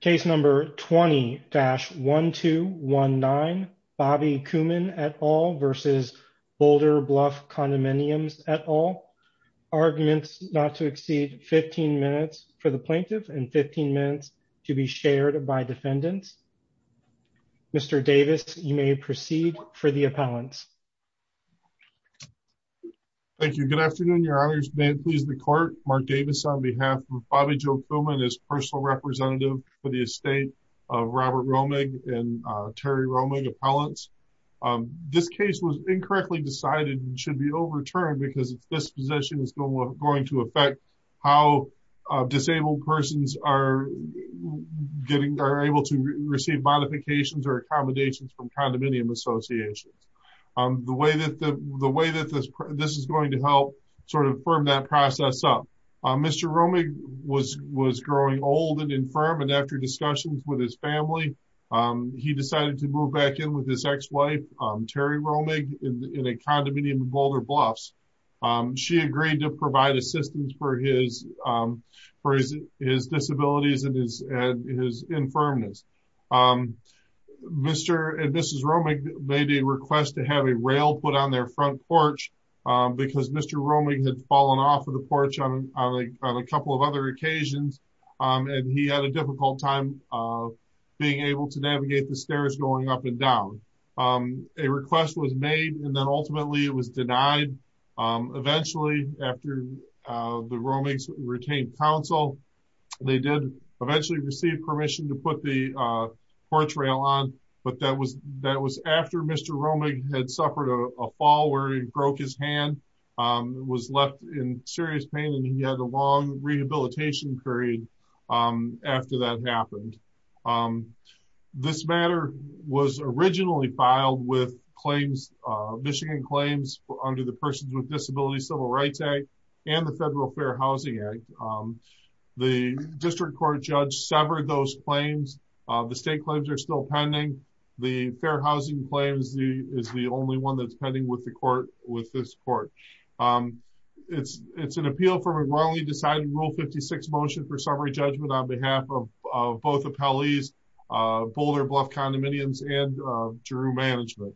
Case number 20-1219 Bobby Kooman et al. versus Boulder Bluff Condominiums et al. Arguments not to exceed 15 minutes for the plaintiff and 15 minutes to be shared by defendants. Mr. Davis, you may proceed for the appellants. Thank you. Good afternoon, your honors. May it please the court, Mark Davis on behalf of Bobby Joe Kooman as personal representative for the estate of Robert Roemig and Terry Roemig appellants. This case was incorrectly decided and should be overturned because this position is going to affect how disabled persons are getting, are able to receive modifications or accommodations from condominium associations. The way that this is going to help sort of firm that process up. Mr. Roemig was growing old and infirm and after discussions with his family, he decided to move back in with his ex-wife, Terry Roemig, in a condominium in Boulder Bluffs. She agreed to provide assistance for his disabilities and his infirmness. Mr. and Mrs. Roemig made a request to have a rail put on their front porch because Mr. Roemig had fallen off of the porch on a couple of other occasions and he had a difficult time being able to navigate the stairs going up and down. A request was made and then ultimately it was denied. Eventually, after the Roemigs retained counsel, they did eventually receive permission to put the porch rail on, but that was after Mr. Roemig had suffered a fall where he broke his hand, was left in serious pain and he had a long rehabilitation period after that happened. This matter was originally filed with Michigan Claims under the Persons with Disabilities Civil Rights Act and the Federal Fair Housing Act. The district court judge severed those claims. The state claims are still pending. The fair housing claims is the with this court. It's an appeal for a wrongly decided Rule 56 motion for summary judgment on behalf of both appellees, Boulder Bluff condominiums, and GRU management.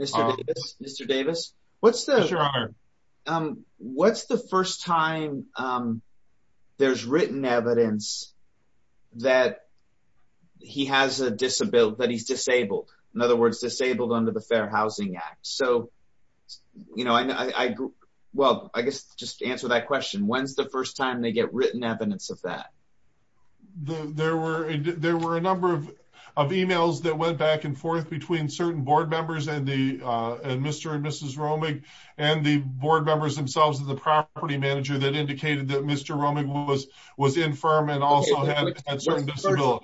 Mr. Davis, what's the first time there's written evidence that he has a disability, that he's disabled, in other words, disabled under the Fair Housing Act? Well, I guess just to answer that question, when's the first time they get written evidence of that? There were a number of emails that went back and forth between certain board members and Mr. and Mrs. Roemig and the board members themselves and the property manager that indicated that Mr. Roemig was infirm and also had certain email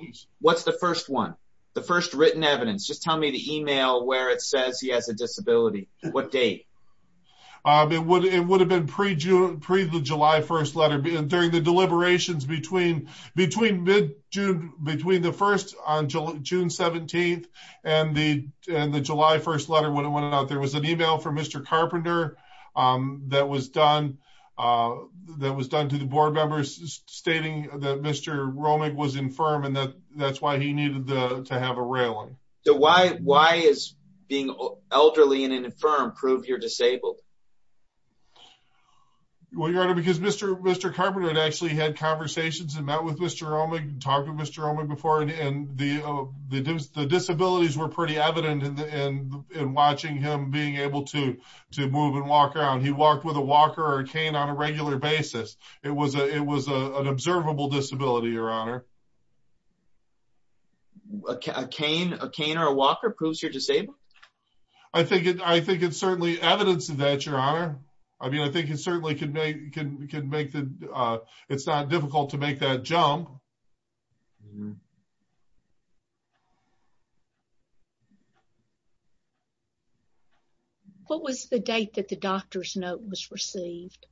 where it says he has a disability. What date? It would have been pre-July 1st letter during the deliberations between the first on June 17th and the July 1st letter when it went out. There was an email from Mr. Carpenter that was done to the board members stating that Mr. Roemig was infirm and that that's why he needed to have a railing. So why is being elderly and infirm prove you're disabled? Well, your honor, because Mr. Carpenter had actually had conversations and met with Mr. Roemig and talked with Mr. Roemig before and the disabilities were pretty evident in watching him being able to move and walk around. He walked with a walker or a cane on a walker. A cane or a walker proves you're disabled? I think it's certainly evidence of that, your honor. I mean, I think it certainly could make the, it's not difficult to make that jump. What was the date that the doctor's note was received?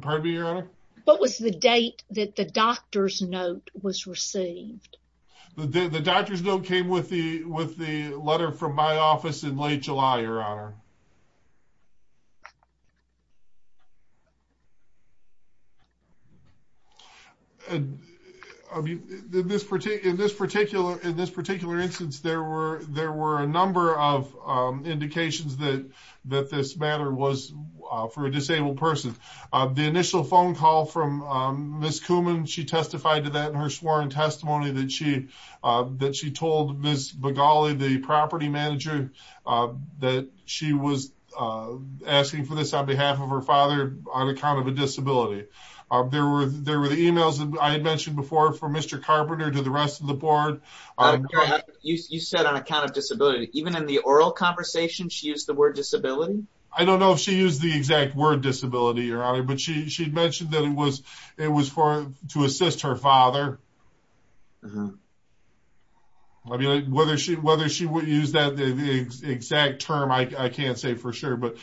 Pardon me, your honor? What was the date that the doctor's note was received? The doctor's note came with the letter from my office in late July, your honor. I mean, in this particular instance, there were a number of indications that this matter was for a disabled person. The initial phone call from Ms. Kuman, she testified to that in her sworn testimony that she told Ms. Bogali, the property manager, that she was asking for this on behalf of her father on account of a disability. There were the emails that I had mentioned before from Mr. Carpenter to the rest of the board. You said on account of disability, even in the oral conversation, she used the word disability? I don't know if she used the exact word disability, your honor, but she mentioned that it was for to assist her father. I mean, whether she would use that exact term, I can't say for sure, but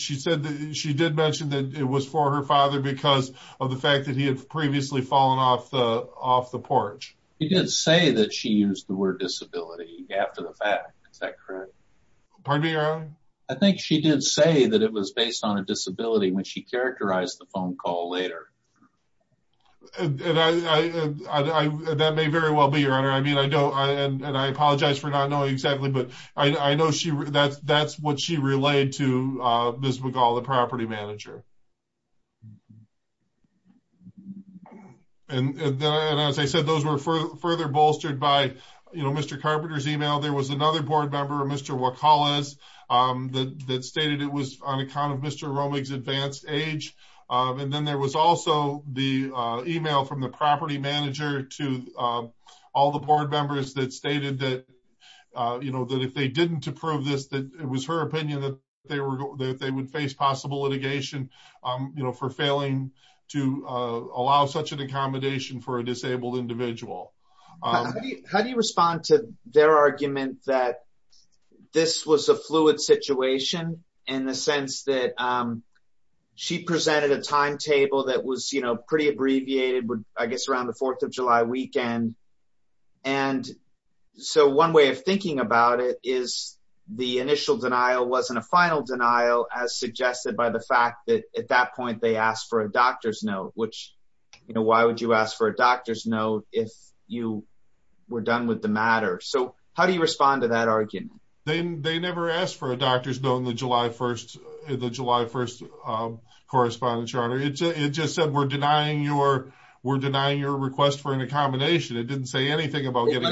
she did mention that it was for her father because of the fact that he had previously fallen off the porch. She did say that she used the word disability after the fact. Is that correct? Pardon me, your honor? I think she did say that it was based on a disability when she characterized the phone call later. That may very well be, your honor. I mean, I don't, and I apologize for not knowing exactly, but I know that's what she relayed to Ms. Bogali, the property manager. And then, as I said, those were further bolstered by, you know, Mr. Carpenter's email. There was another board member, Mr. Wakalas, that stated it was on account of Mr. Romig's advanced age. And then there was also the email from the property manager to all the board members that stated that, you know, that if they didn't approve this, that it was her opinion that they would face possible litigation, you know, for failing to allow such an accommodation for a disabled individual. How do you respond to their argument that this was a fluid situation in the sense that she presented a timetable that was, you know, pretty abbreviated, I guess, around the 4th of July weekend. And so one way of thinking about it is the initial denial wasn't a final denial, as suggested by the fact that at that point they asked for a doctor's note, which, you know, why would you ask for a doctor's note if you were done with the matter? So how do you respond to that argument? They never asked for a doctor's note on the July 1st correspondence, your honor. It just said we're denying your request for an accommodation. It didn't say anything about when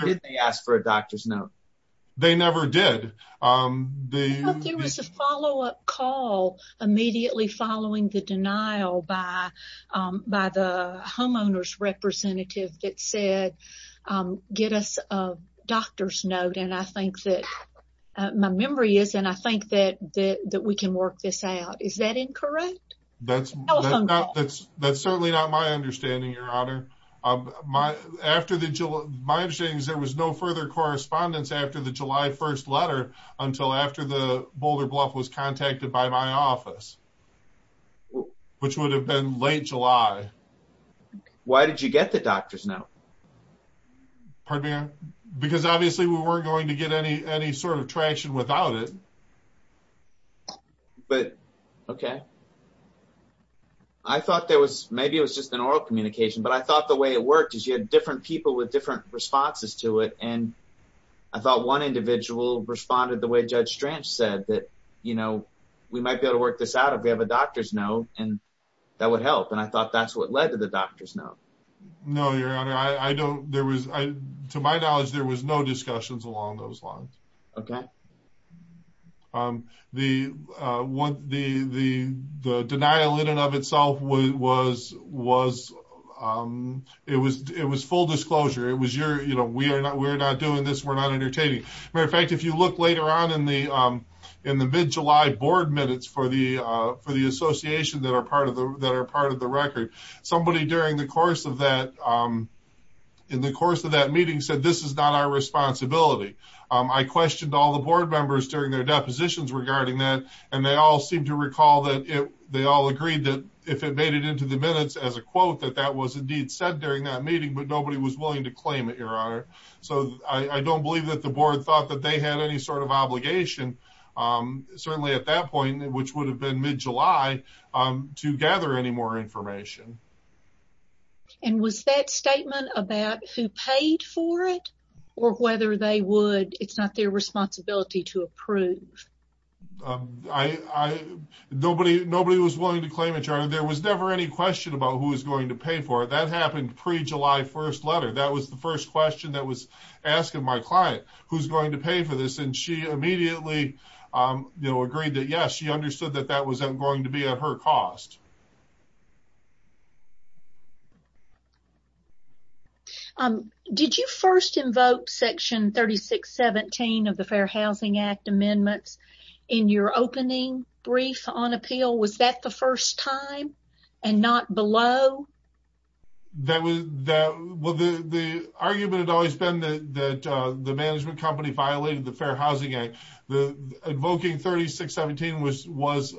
did they ask for a doctor's note. They never did. There was a follow-up call immediately following the denial by the homeowner's representative that said, get us a doctor's note. And I think that my memory is, and I think that we can work this out. Is that incorrect? That's certainly not my understanding, your honor. My understanding is there was no further correspondence after the July 1st letter until after the Boulder Bluff was contacted by my office, which would have been late July. Why did you get the doctor's note? Pardon me? Because obviously we weren't going to get any sort of traction without it. But, okay. I thought there was, maybe it was just an oral communication, but I thought the way it worked is you had different people with different responses to it. And I thought one individual responded the way Judge Stranch said that, you know, we might be able to work this out if we have a doctor's note and that would help. And I thought that's what led to the doctor's note. No, your honor. I don't, there was, to my knowledge, there was no discussions along those lines. Okay. The denial in and of itself was, it was full disclosure. It was, you know, we are not, we're not doing this. We're not entertaining. Matter of fact, if you look later on in the mid-July board minutes for the association that are part of the record, somebody during the that meeting said, this is not our responsibility. I questioned all the board members during their depositions regarding that. And they all seem to recall that they all agreed that if it made it into the minutes as a quote, that that was indeed said during that meeting, but nobody was willing to claim it, your honor. So I don't believe that the board thought that they had any sort of obligation. Certainly at that point, which would have been mid-July to gather any more information. And was that statement about who paid for it or whether they would, it's not their responsibility to approve. I, nobody, nobody was willing to claim it, your honor. There was never any question about who was going to pay for it. That happened pre-July 1st letter. That was the first question that was asking my client who's going to pay for this. And she immediately, you know, agreed that, she understood that that wasn't going to be at her cost. Did you first invoke section 3617 of the Fair Housing Act amendments in your opening brief on appeal? Was that the first time and not below? That was that, well, the, the argument had always been that, that the management company violated the Fair Housing Act. The invoking 3617 was, was,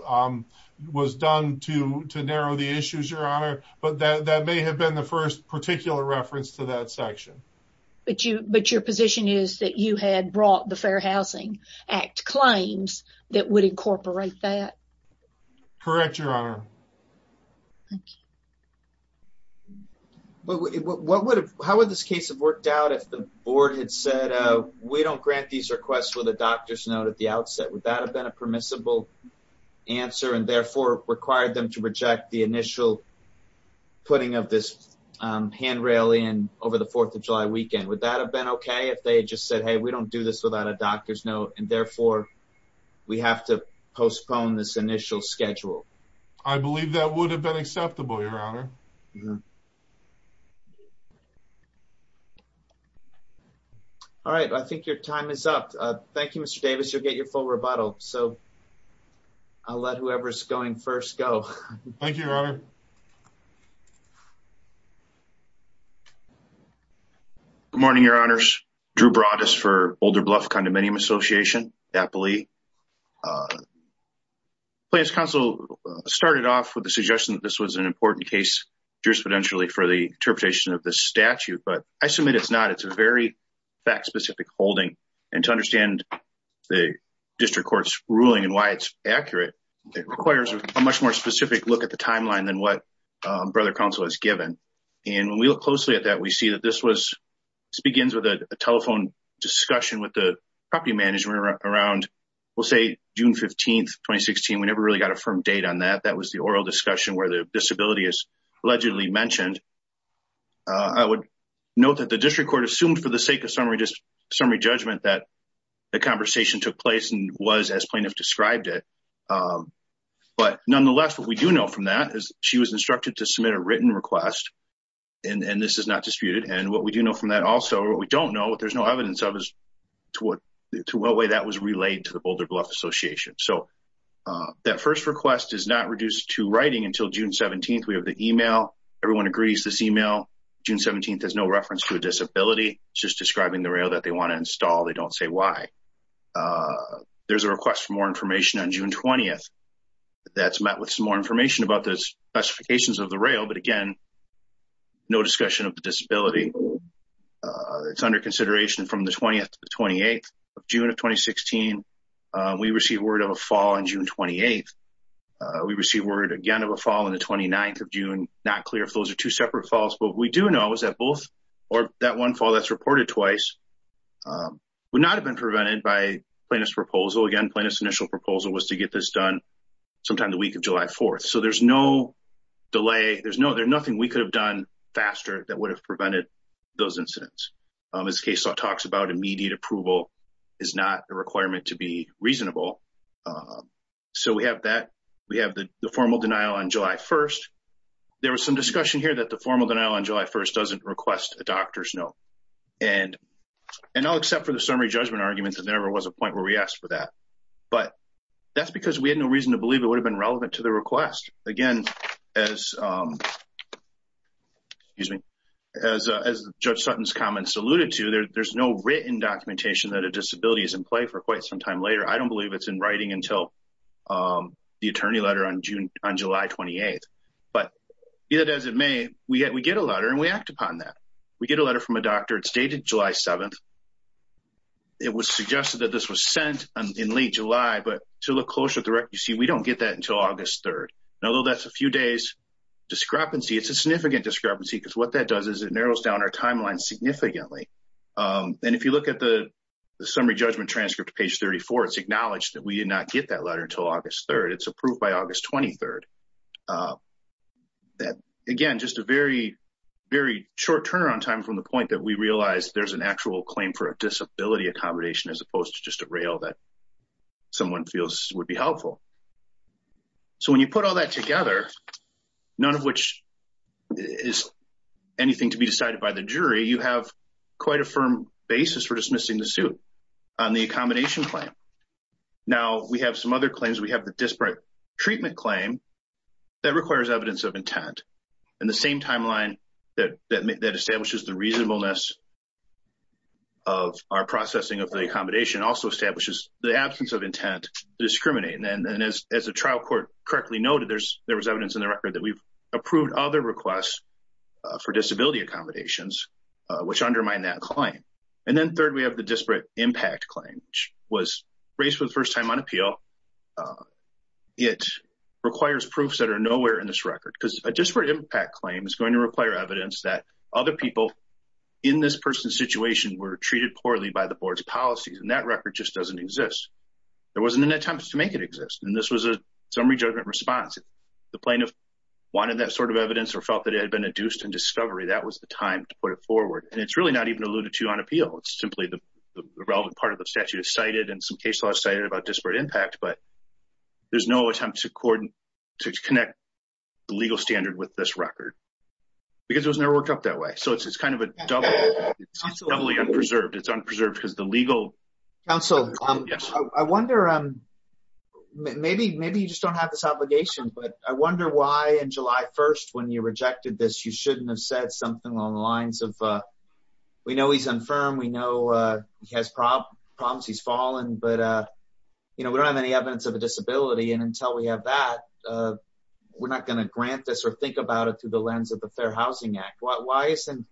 was done to, to narrow the issues, your honor. But that, that may have been the first particular reference to that section. But you, but your position is that you had brought the Fair Housing Act claims that would incorporate that? Correct, your honor. Thank you. What would have, how would this case have worked out if the board had said, we don't grant these requests with a doctor's note at the outset? Would that have been a permissible answer and therefore required them to reject the initial putting of this handrail in over the 4th of July weekend? Would that have been okay if they just said, hey, we don't do this without a doctor's note and therefore we have to postpone this initial schedule? I believe that would have been acceptable, your honor. All right. I think your time is up. Thank you, Mr. Davis. You'll get your full rebuttal. So I'll let whoever's going first go. Thank you, your honor. Good morning, your honors. Drew Broadus for Boulder Bluff Condominium Association, Appalee. Plans Council started off with the suggestion that this was an important case jurisprudentially for the interpretation of the statute, but I submit it's not. It's a very fact-specific holding. And to understand the district court's ruling and why it's accurate, it requires a much more specific look at the timeline than what Brother Council has given. And when we look closely at that, we see that this begins with a telephone discussion with the property management around, we'll say, June 15th, 2016. We never really got a firm date on that. That was the oral discussion where the disability is allegedly mentioned. I would note that the district court assumed for the sake of summary judgment that the conversation took place and as plaintiff described it. But nonetheless, what we do know from that is she was instructed to submit a written request and this is not disputed. And what we do know from that also, what we don't know, what there's no evidence of is to what way that was relayed to the Boulder Bluff Association. So that first request is not reduced to writing until June 17th. We have the email. Everyone agrees this email, June 17th, has no reference to a disability. It's just describing the rail that they want to install. They don't say why. There's a request for more information on June 20th that's met with some more information about the specifications of the rail. But again, no discussion of the disability. It's under consideration from the 20th to the 28th of June of 2016. We received word of a fall on June 28th. We received word again of a fall on the 29th of June. Not clear if those are two separate falls, but we do know is that both or that one fall that's reported twice would not have been prevented by plaintiff's proposal. Again, plaintiff's initial proposal was to get this done sometime the week of July 4th. So there's no delay. There's no, there's nothing we could have done faster that would have prevented those incidents. This case talks about immediate approval is not a requirement to be reasonable. So we have that. We have the formal denial on July 1st. There was some discussion here that formal denial on July 1st doesn't request a doctor's note. And I'll accept for the summary judgment argument that there was a point where we asked for that. But that's because we had no reason to believe it would have been relevant to the request. Again, as, excuse me, as Judge Sutton's comments alluded to, there's no written documentation that a disability is in play for quite some time later. I don't believe it's in writing until the attorney letter on July 28th. But as it may, we get a letter and we act upon that. We get a letter from a doctor. It's dated July 7th. It was suggested that this was sent in late July, but to look closer at the record, you see, we don't get that until August 3rd. And although that's a few days discrepancy, it's a significant discrepancy because what that does is it narrows down our timeline significantly. And if you look at the summary judgment transcript page 34, it's acknowledged that you did not get that letter until August 3rd. It's approved by August 23rd. That, again, just a very, very short turnaround time from the point that we realized there's an actual claim for a disability accommodation as opposed to just a rail that someone feels would be helpful. So when you put all that together, none of which is anything to be decided by the jury, you have quite a firm basis for dismissing the suit on the accommodation claim. Now, we have some other claims. We have the disparate treatment claim that requires evidence of intent. And the same timeline that establishes the reasonableness of our processing of the accommodation also establishes the absence of intent to discriminate. And as the trial court correctly noted, there was evidence in the record that we've approved other requests for disability accommodations, which undermine that claim. And then third, we have the disparate impact claim, which was raised for the first time on appeal. It requires proofs that are nowhere in this record because a disparate impact claim is going to require evidence that other people in this person's situation were treated poorly by the board's policies. And that record just doesn't exist. There wasn't an attempt to make it exist. And this was a summary judgment response. The plaintiff wanted that sort of evidence or felt that it had been adduced in discovery. That was the time to put it forward. And it's really not even alluded to on appeal. It's simply the relevant part of the statute is cited and some case law is cited about disparate impact. But there's no attempt to connect the legal standard with this record because it was never worked up that way. So it's kind of doubly unpreserved. It's unpreserved because the legal... Counsel, I wonder, maybe you just don't have this obligation, but I wonder why in July 1st, when you rejected this, you shouldn't have said something along the lines of, we know he's unfirm. We know he has problems. He's fallen, but we don't have any evidence of a disability. And until we have that, we're not going to grant this or think about it through the lens of the Fair Housing Act. Why isn't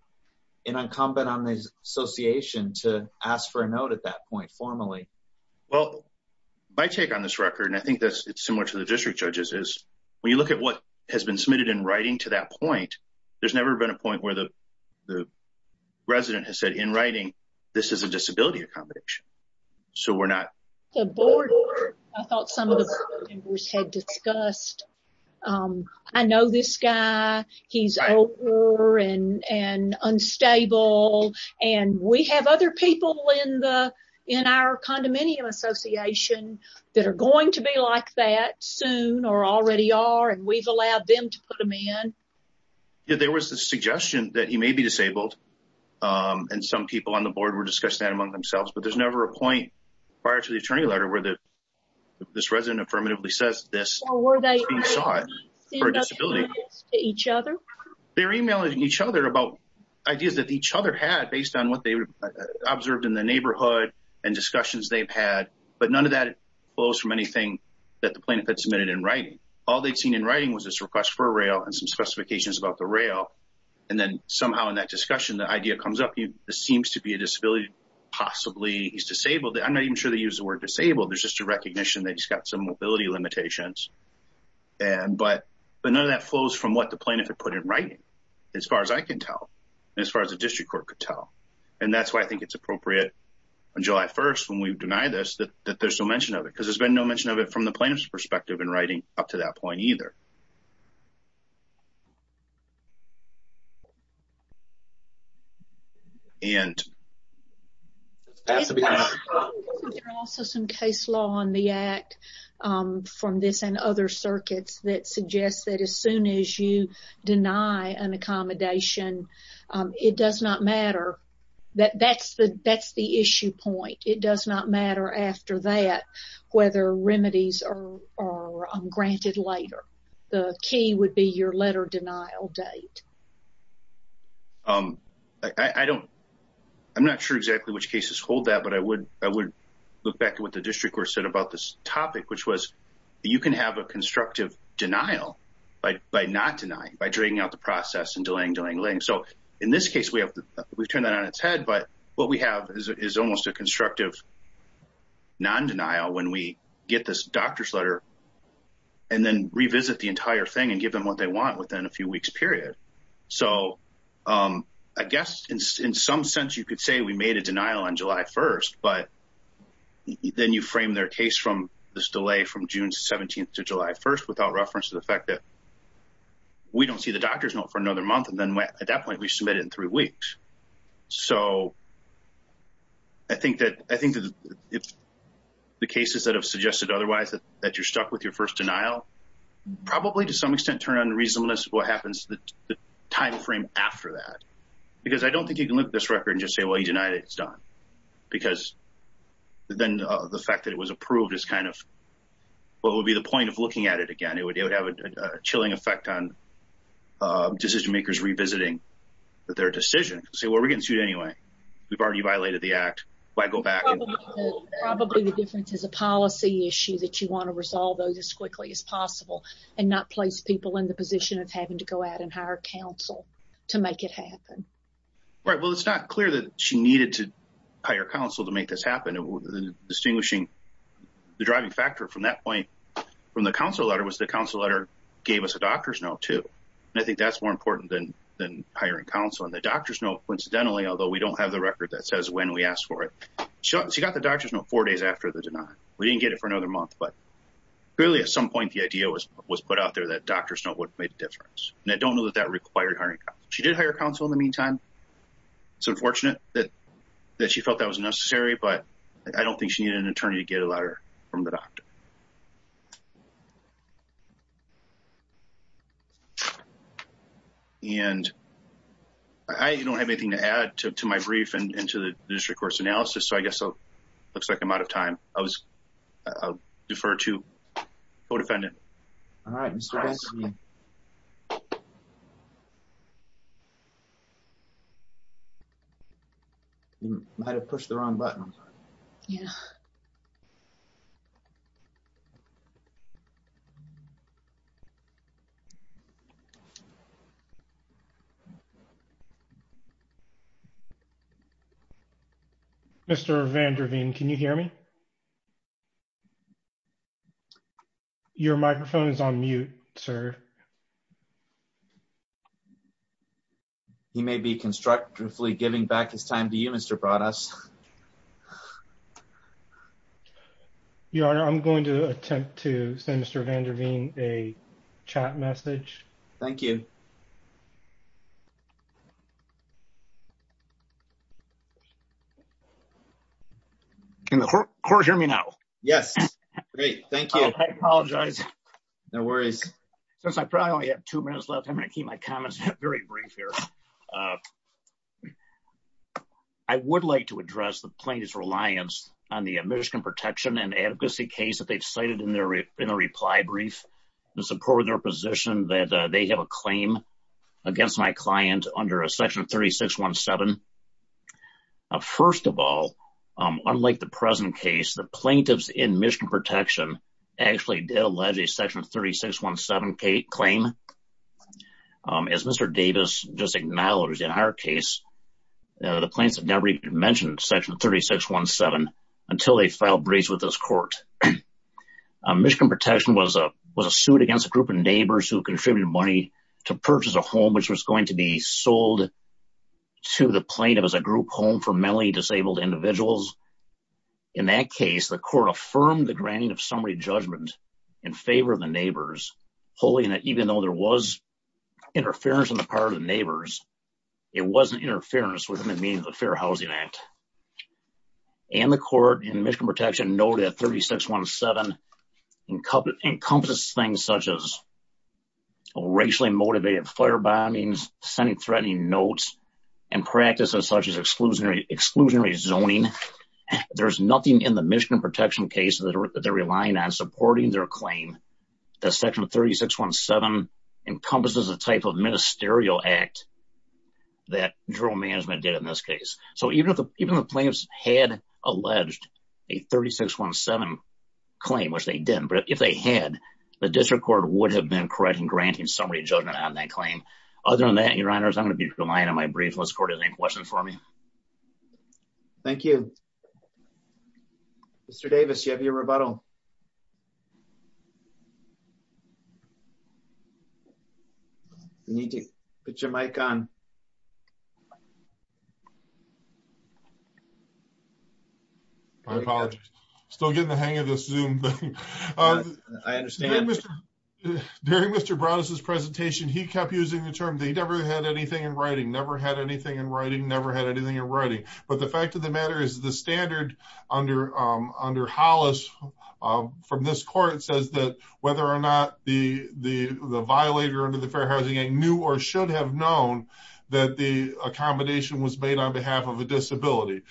it incumbent on the association to ask for a note at that point formally? Well, my take on this record, and I think it's similar to the district judges is when you look at what has been submitted in writing to that point, there's never been a resident has said in writing, this is a disability accommodation. So we're not... I thought some of the board members had discussed, I know this guy, he's over and unstable, and we have other people in our condominium association that are going to be like that soon or already are, and we've allowed them to put them in. There was the suggestion that he may be disabled, and some people on the board were discussing that among themselves, but there's never a point prior to the attorney letter where this resident affirmatively says this is being sought for a disability. They're emailing each other about ideas that each other had based on what they observed in the neighborhood and discussions they've had, but none of that flows from anything that the plaintiff had submitted in writing. All they'd seen in writing was this request for a rail and some specifications about the rail, and then somehow in that discussion, the idea comes up, this seems to be a disability, possibly he's disabled. I'm not even sure they use the word disabled. There's just a recognition that he's got some mobility limitations, but none of that flows from what the plaintiff had put in writing as far as I can tell and as far as the district court could tell, and that's why I think it's appropriate on July 1st when we've denied this that there's no mention of it because there's no mention of it from the plaintiff's perspective in writing up to that point either. There are also some case law on the act from this and other circuits that suggest that as soon as you deny an accommodation, it does not matter. That's the issue point. It does not matter after that whether remedies are granted later. The key would be your letter denial date. I'm not sure exactly which cases hold that, but I would look back to what the district court said about this topic, which was you can have a constructive denial by not denying, by dragging out the process and delaying, delaying, delaying. In this case, we've turned that on its head, but what we have is almost a constructive non-denial when we get this doctor's letter and then revisit the entire thing and give them what they want within a few weeks period. I guess in some sense, you could say we made a denial on July 1st, but then you frame their case from this delay from June 17th to July 1st without reference to the fact that we don't see the doctor's note for another month, and then at that point, we submit it in three weeks. I think that if the cases that have suggested otherwise, that you're stuck with your first denial, probably to some extent turn on reasonableness what happens to the timeframe after that, because I don't think you can look at this record and just say, well, you denied it. It's done, because then the fact that it was approved is kind of what would be the point of looking at it again. It would have a chilling effect on decision makers revisiting their decision. Say, well, we're getting sued anyway. We've already violated the act. Why go back? Probably the difference is a policy issue that you want to resolve those as quickly as possible and not place people in the position of having to go out and hire counsel to make it happen. Right. Well, it's not clear that she needed to hire counsel to make this happen. Distinguishing the driving factor from that point from the counsel letter was the counsel letter gave us a doctor's note, too. I think that's more important than hiring counsel. The doctor's note, coincidentally, although we don't have the record that says when we asked for it, she got the doctor's note four days after the denial. We didn't get it for another month. Clearly, at some point, the idea was put out there that doctor's note would have made a difference. I don't know that that required hiring counsel. She did hire counsel in the meantime. It's unfortunate that she felt that was necessary, but I don't think she needed an doctor's note. And I don't have anything to add to my brief and to the district court's analysis, so I guess it looks like I'm out of time. I'll defer to the co-defendant. All right, Mr. Benson. You might have pushed the wrong button. Yeah. All right, we'll defer to the co-defendant, Mr. Benson, to make a motion to adjourn the hearing. Mr. Van Der Veen, can you hear me? Your microphone is on mute, sir. He may be constructively giving back his time to you, Mr. Broaddus. Your Honor, I'm going to attempt to send Mr. Van Der Veen a chat message. Thank you. Can the court hear me now? Yes. Great, thank you. I apologize. No worries. Since I probably only have two minutes left, I'm going to keep my comments very brief here. I would like to address the plaintiff's reliance on the admission protection and adequacy case that they've cited in their reply brief in support of their position that they have a claim against my client under section 3617. First of all, unlike the present case, the plaintiffs in admission protection actually did allege a section 3617 claim. As Mr. Davis just acknowledged, in our case, the plaintiffs had never even mentioned section 3617 until they filed briefs with this court. Admission protection was a suit against a group of neighbors who contributed money to purchase a home, which was going to be the granting of summary judgment in favor of the neighbors. Even though there was interference on the part of the neighbors, it wasn't interference within the meaning of the Fair Housing Act. The court in admission protection noted that 3617 encompasses things such as racially motivated firebombings, sending threatening notes, and practices such as that they're relying on supporting their claim that section 3617 encompasses a type of ministerial act that general management did in this case. So even if the plaintiffs had alleged a 3617 claim, which they didn't, but if they had, the district court would have been correcting granting summary judgment on that claim. Other than that, your honors, I'm going to be relying on my brief, unless the court has any questions for me. Thank you. Mr. Davis, do you have your rebuttal? You need to put your mic on. I apologize. Still getting the hang of this Zoom thing. I understand. During Mr. Brown's presentation, he kept using the term, they never had anything in writing, never had anything in writing, never had anything in writing. But the fact of the matter is the standard under Hollis from this court says that whether or not the violator under the Fair Housing Act knew or should have known that the accommodation was made on behalf of a disability.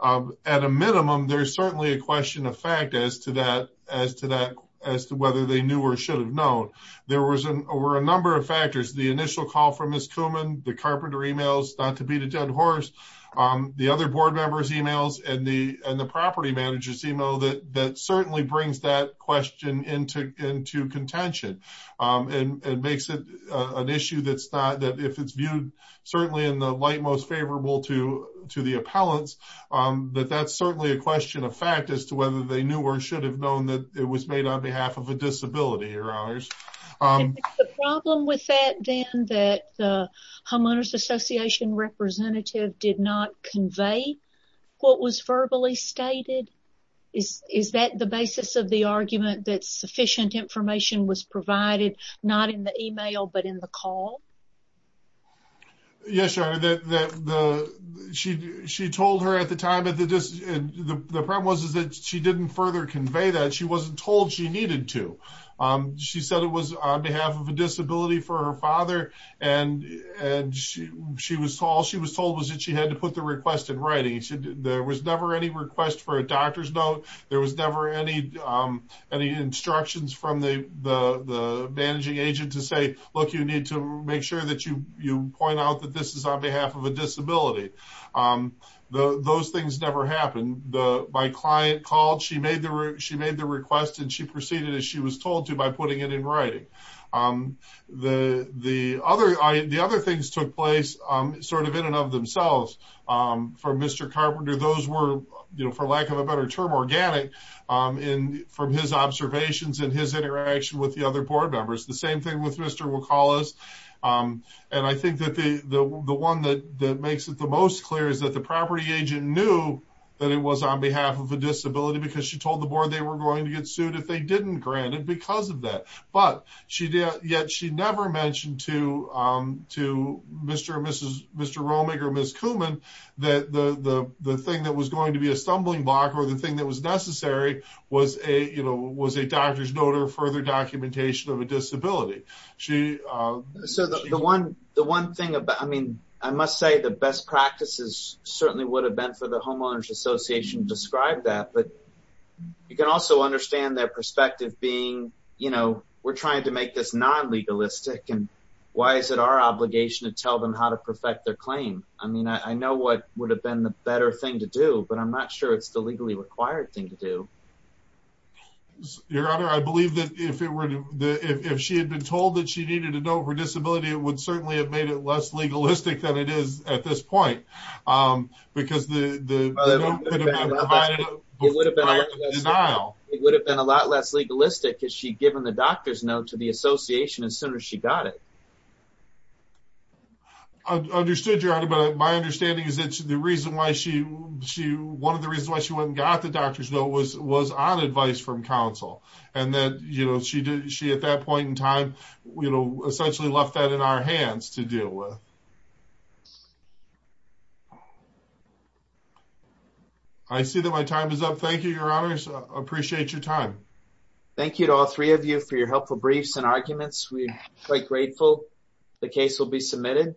At a minimum, there's certainly a question of fact as to whether they knew or should have known. There were a number of factors, the initial call from Ms. Kuhlman, the carpenter emails, not to beat a dead horse, the other board members emails, and the property manager's email that certainly brings that question into contention and makes it an issue that if it's viewed certainly in the light most favorable to the appellants, that that's certainly a question of fact as to whether they knew or should have known that it was made on behalf of a disability, your honors. The problem with that then that the Homeowners Association representative did not convey what was verbally stated, is that the basis of the argument that sufficient information was provided not in the email but in the call? Yes, your honor. She told her at the time, the problem was that she didn't further convey that. She wasn't told she needed to. She said it was on behalf of a disability for her father and all she was told was that she had to put the request in writing. There was never any request for a doctor's note. There was never any instructions from the managing agent to say, look, you need to make sure that you point out that this is on behalf of a disability. Those things never happened. My client called, she made the request and she proceeded as she was told to by putting it in writing. The other things took place sort of in and of themselves from Mr. Carpenter. Those were, for lack of a better term, organic from his observations and his interaction with the other board members. The same thing with Mr. Wacolas. I think that the one that it was on behalf of a disability because she told the board they were going to get sued if they didn't grant it because of that. Yet she never mentioned to Mr. Romig or Ms. Kuhlman that the thing that was going to be a stumbling block or the thing that was necessary was a doctor's note or further documentation of a disability. I must say the best practices certainly would have been for the homeowners association to describe that, but you can also understand their perspective being we're trying to make this non-legalistic and why is it our obligation to tell them how to perfect their claim? I know what would have been the better thing to do, but I'm not sure it's the legally required thing to do. Your honor, I believe that if she had been told that she needed to know her disability, it would certainly have made it less legalistic than it is at this point. It would have been a lot less legalistic if she'd given the doctor's note to the association as soon as she got it. I understood your honor, but my understanding is that one of the reasons why she went and got the doctor's note was on advice from counsel and that she at that point in time essentially left that in our hands to deal with. I see that my time is up. Thank you, your honors. I appreciate your time. Thank you to all three of you for your helpful briefs and arguments. We're quite grateful the case will be submitted.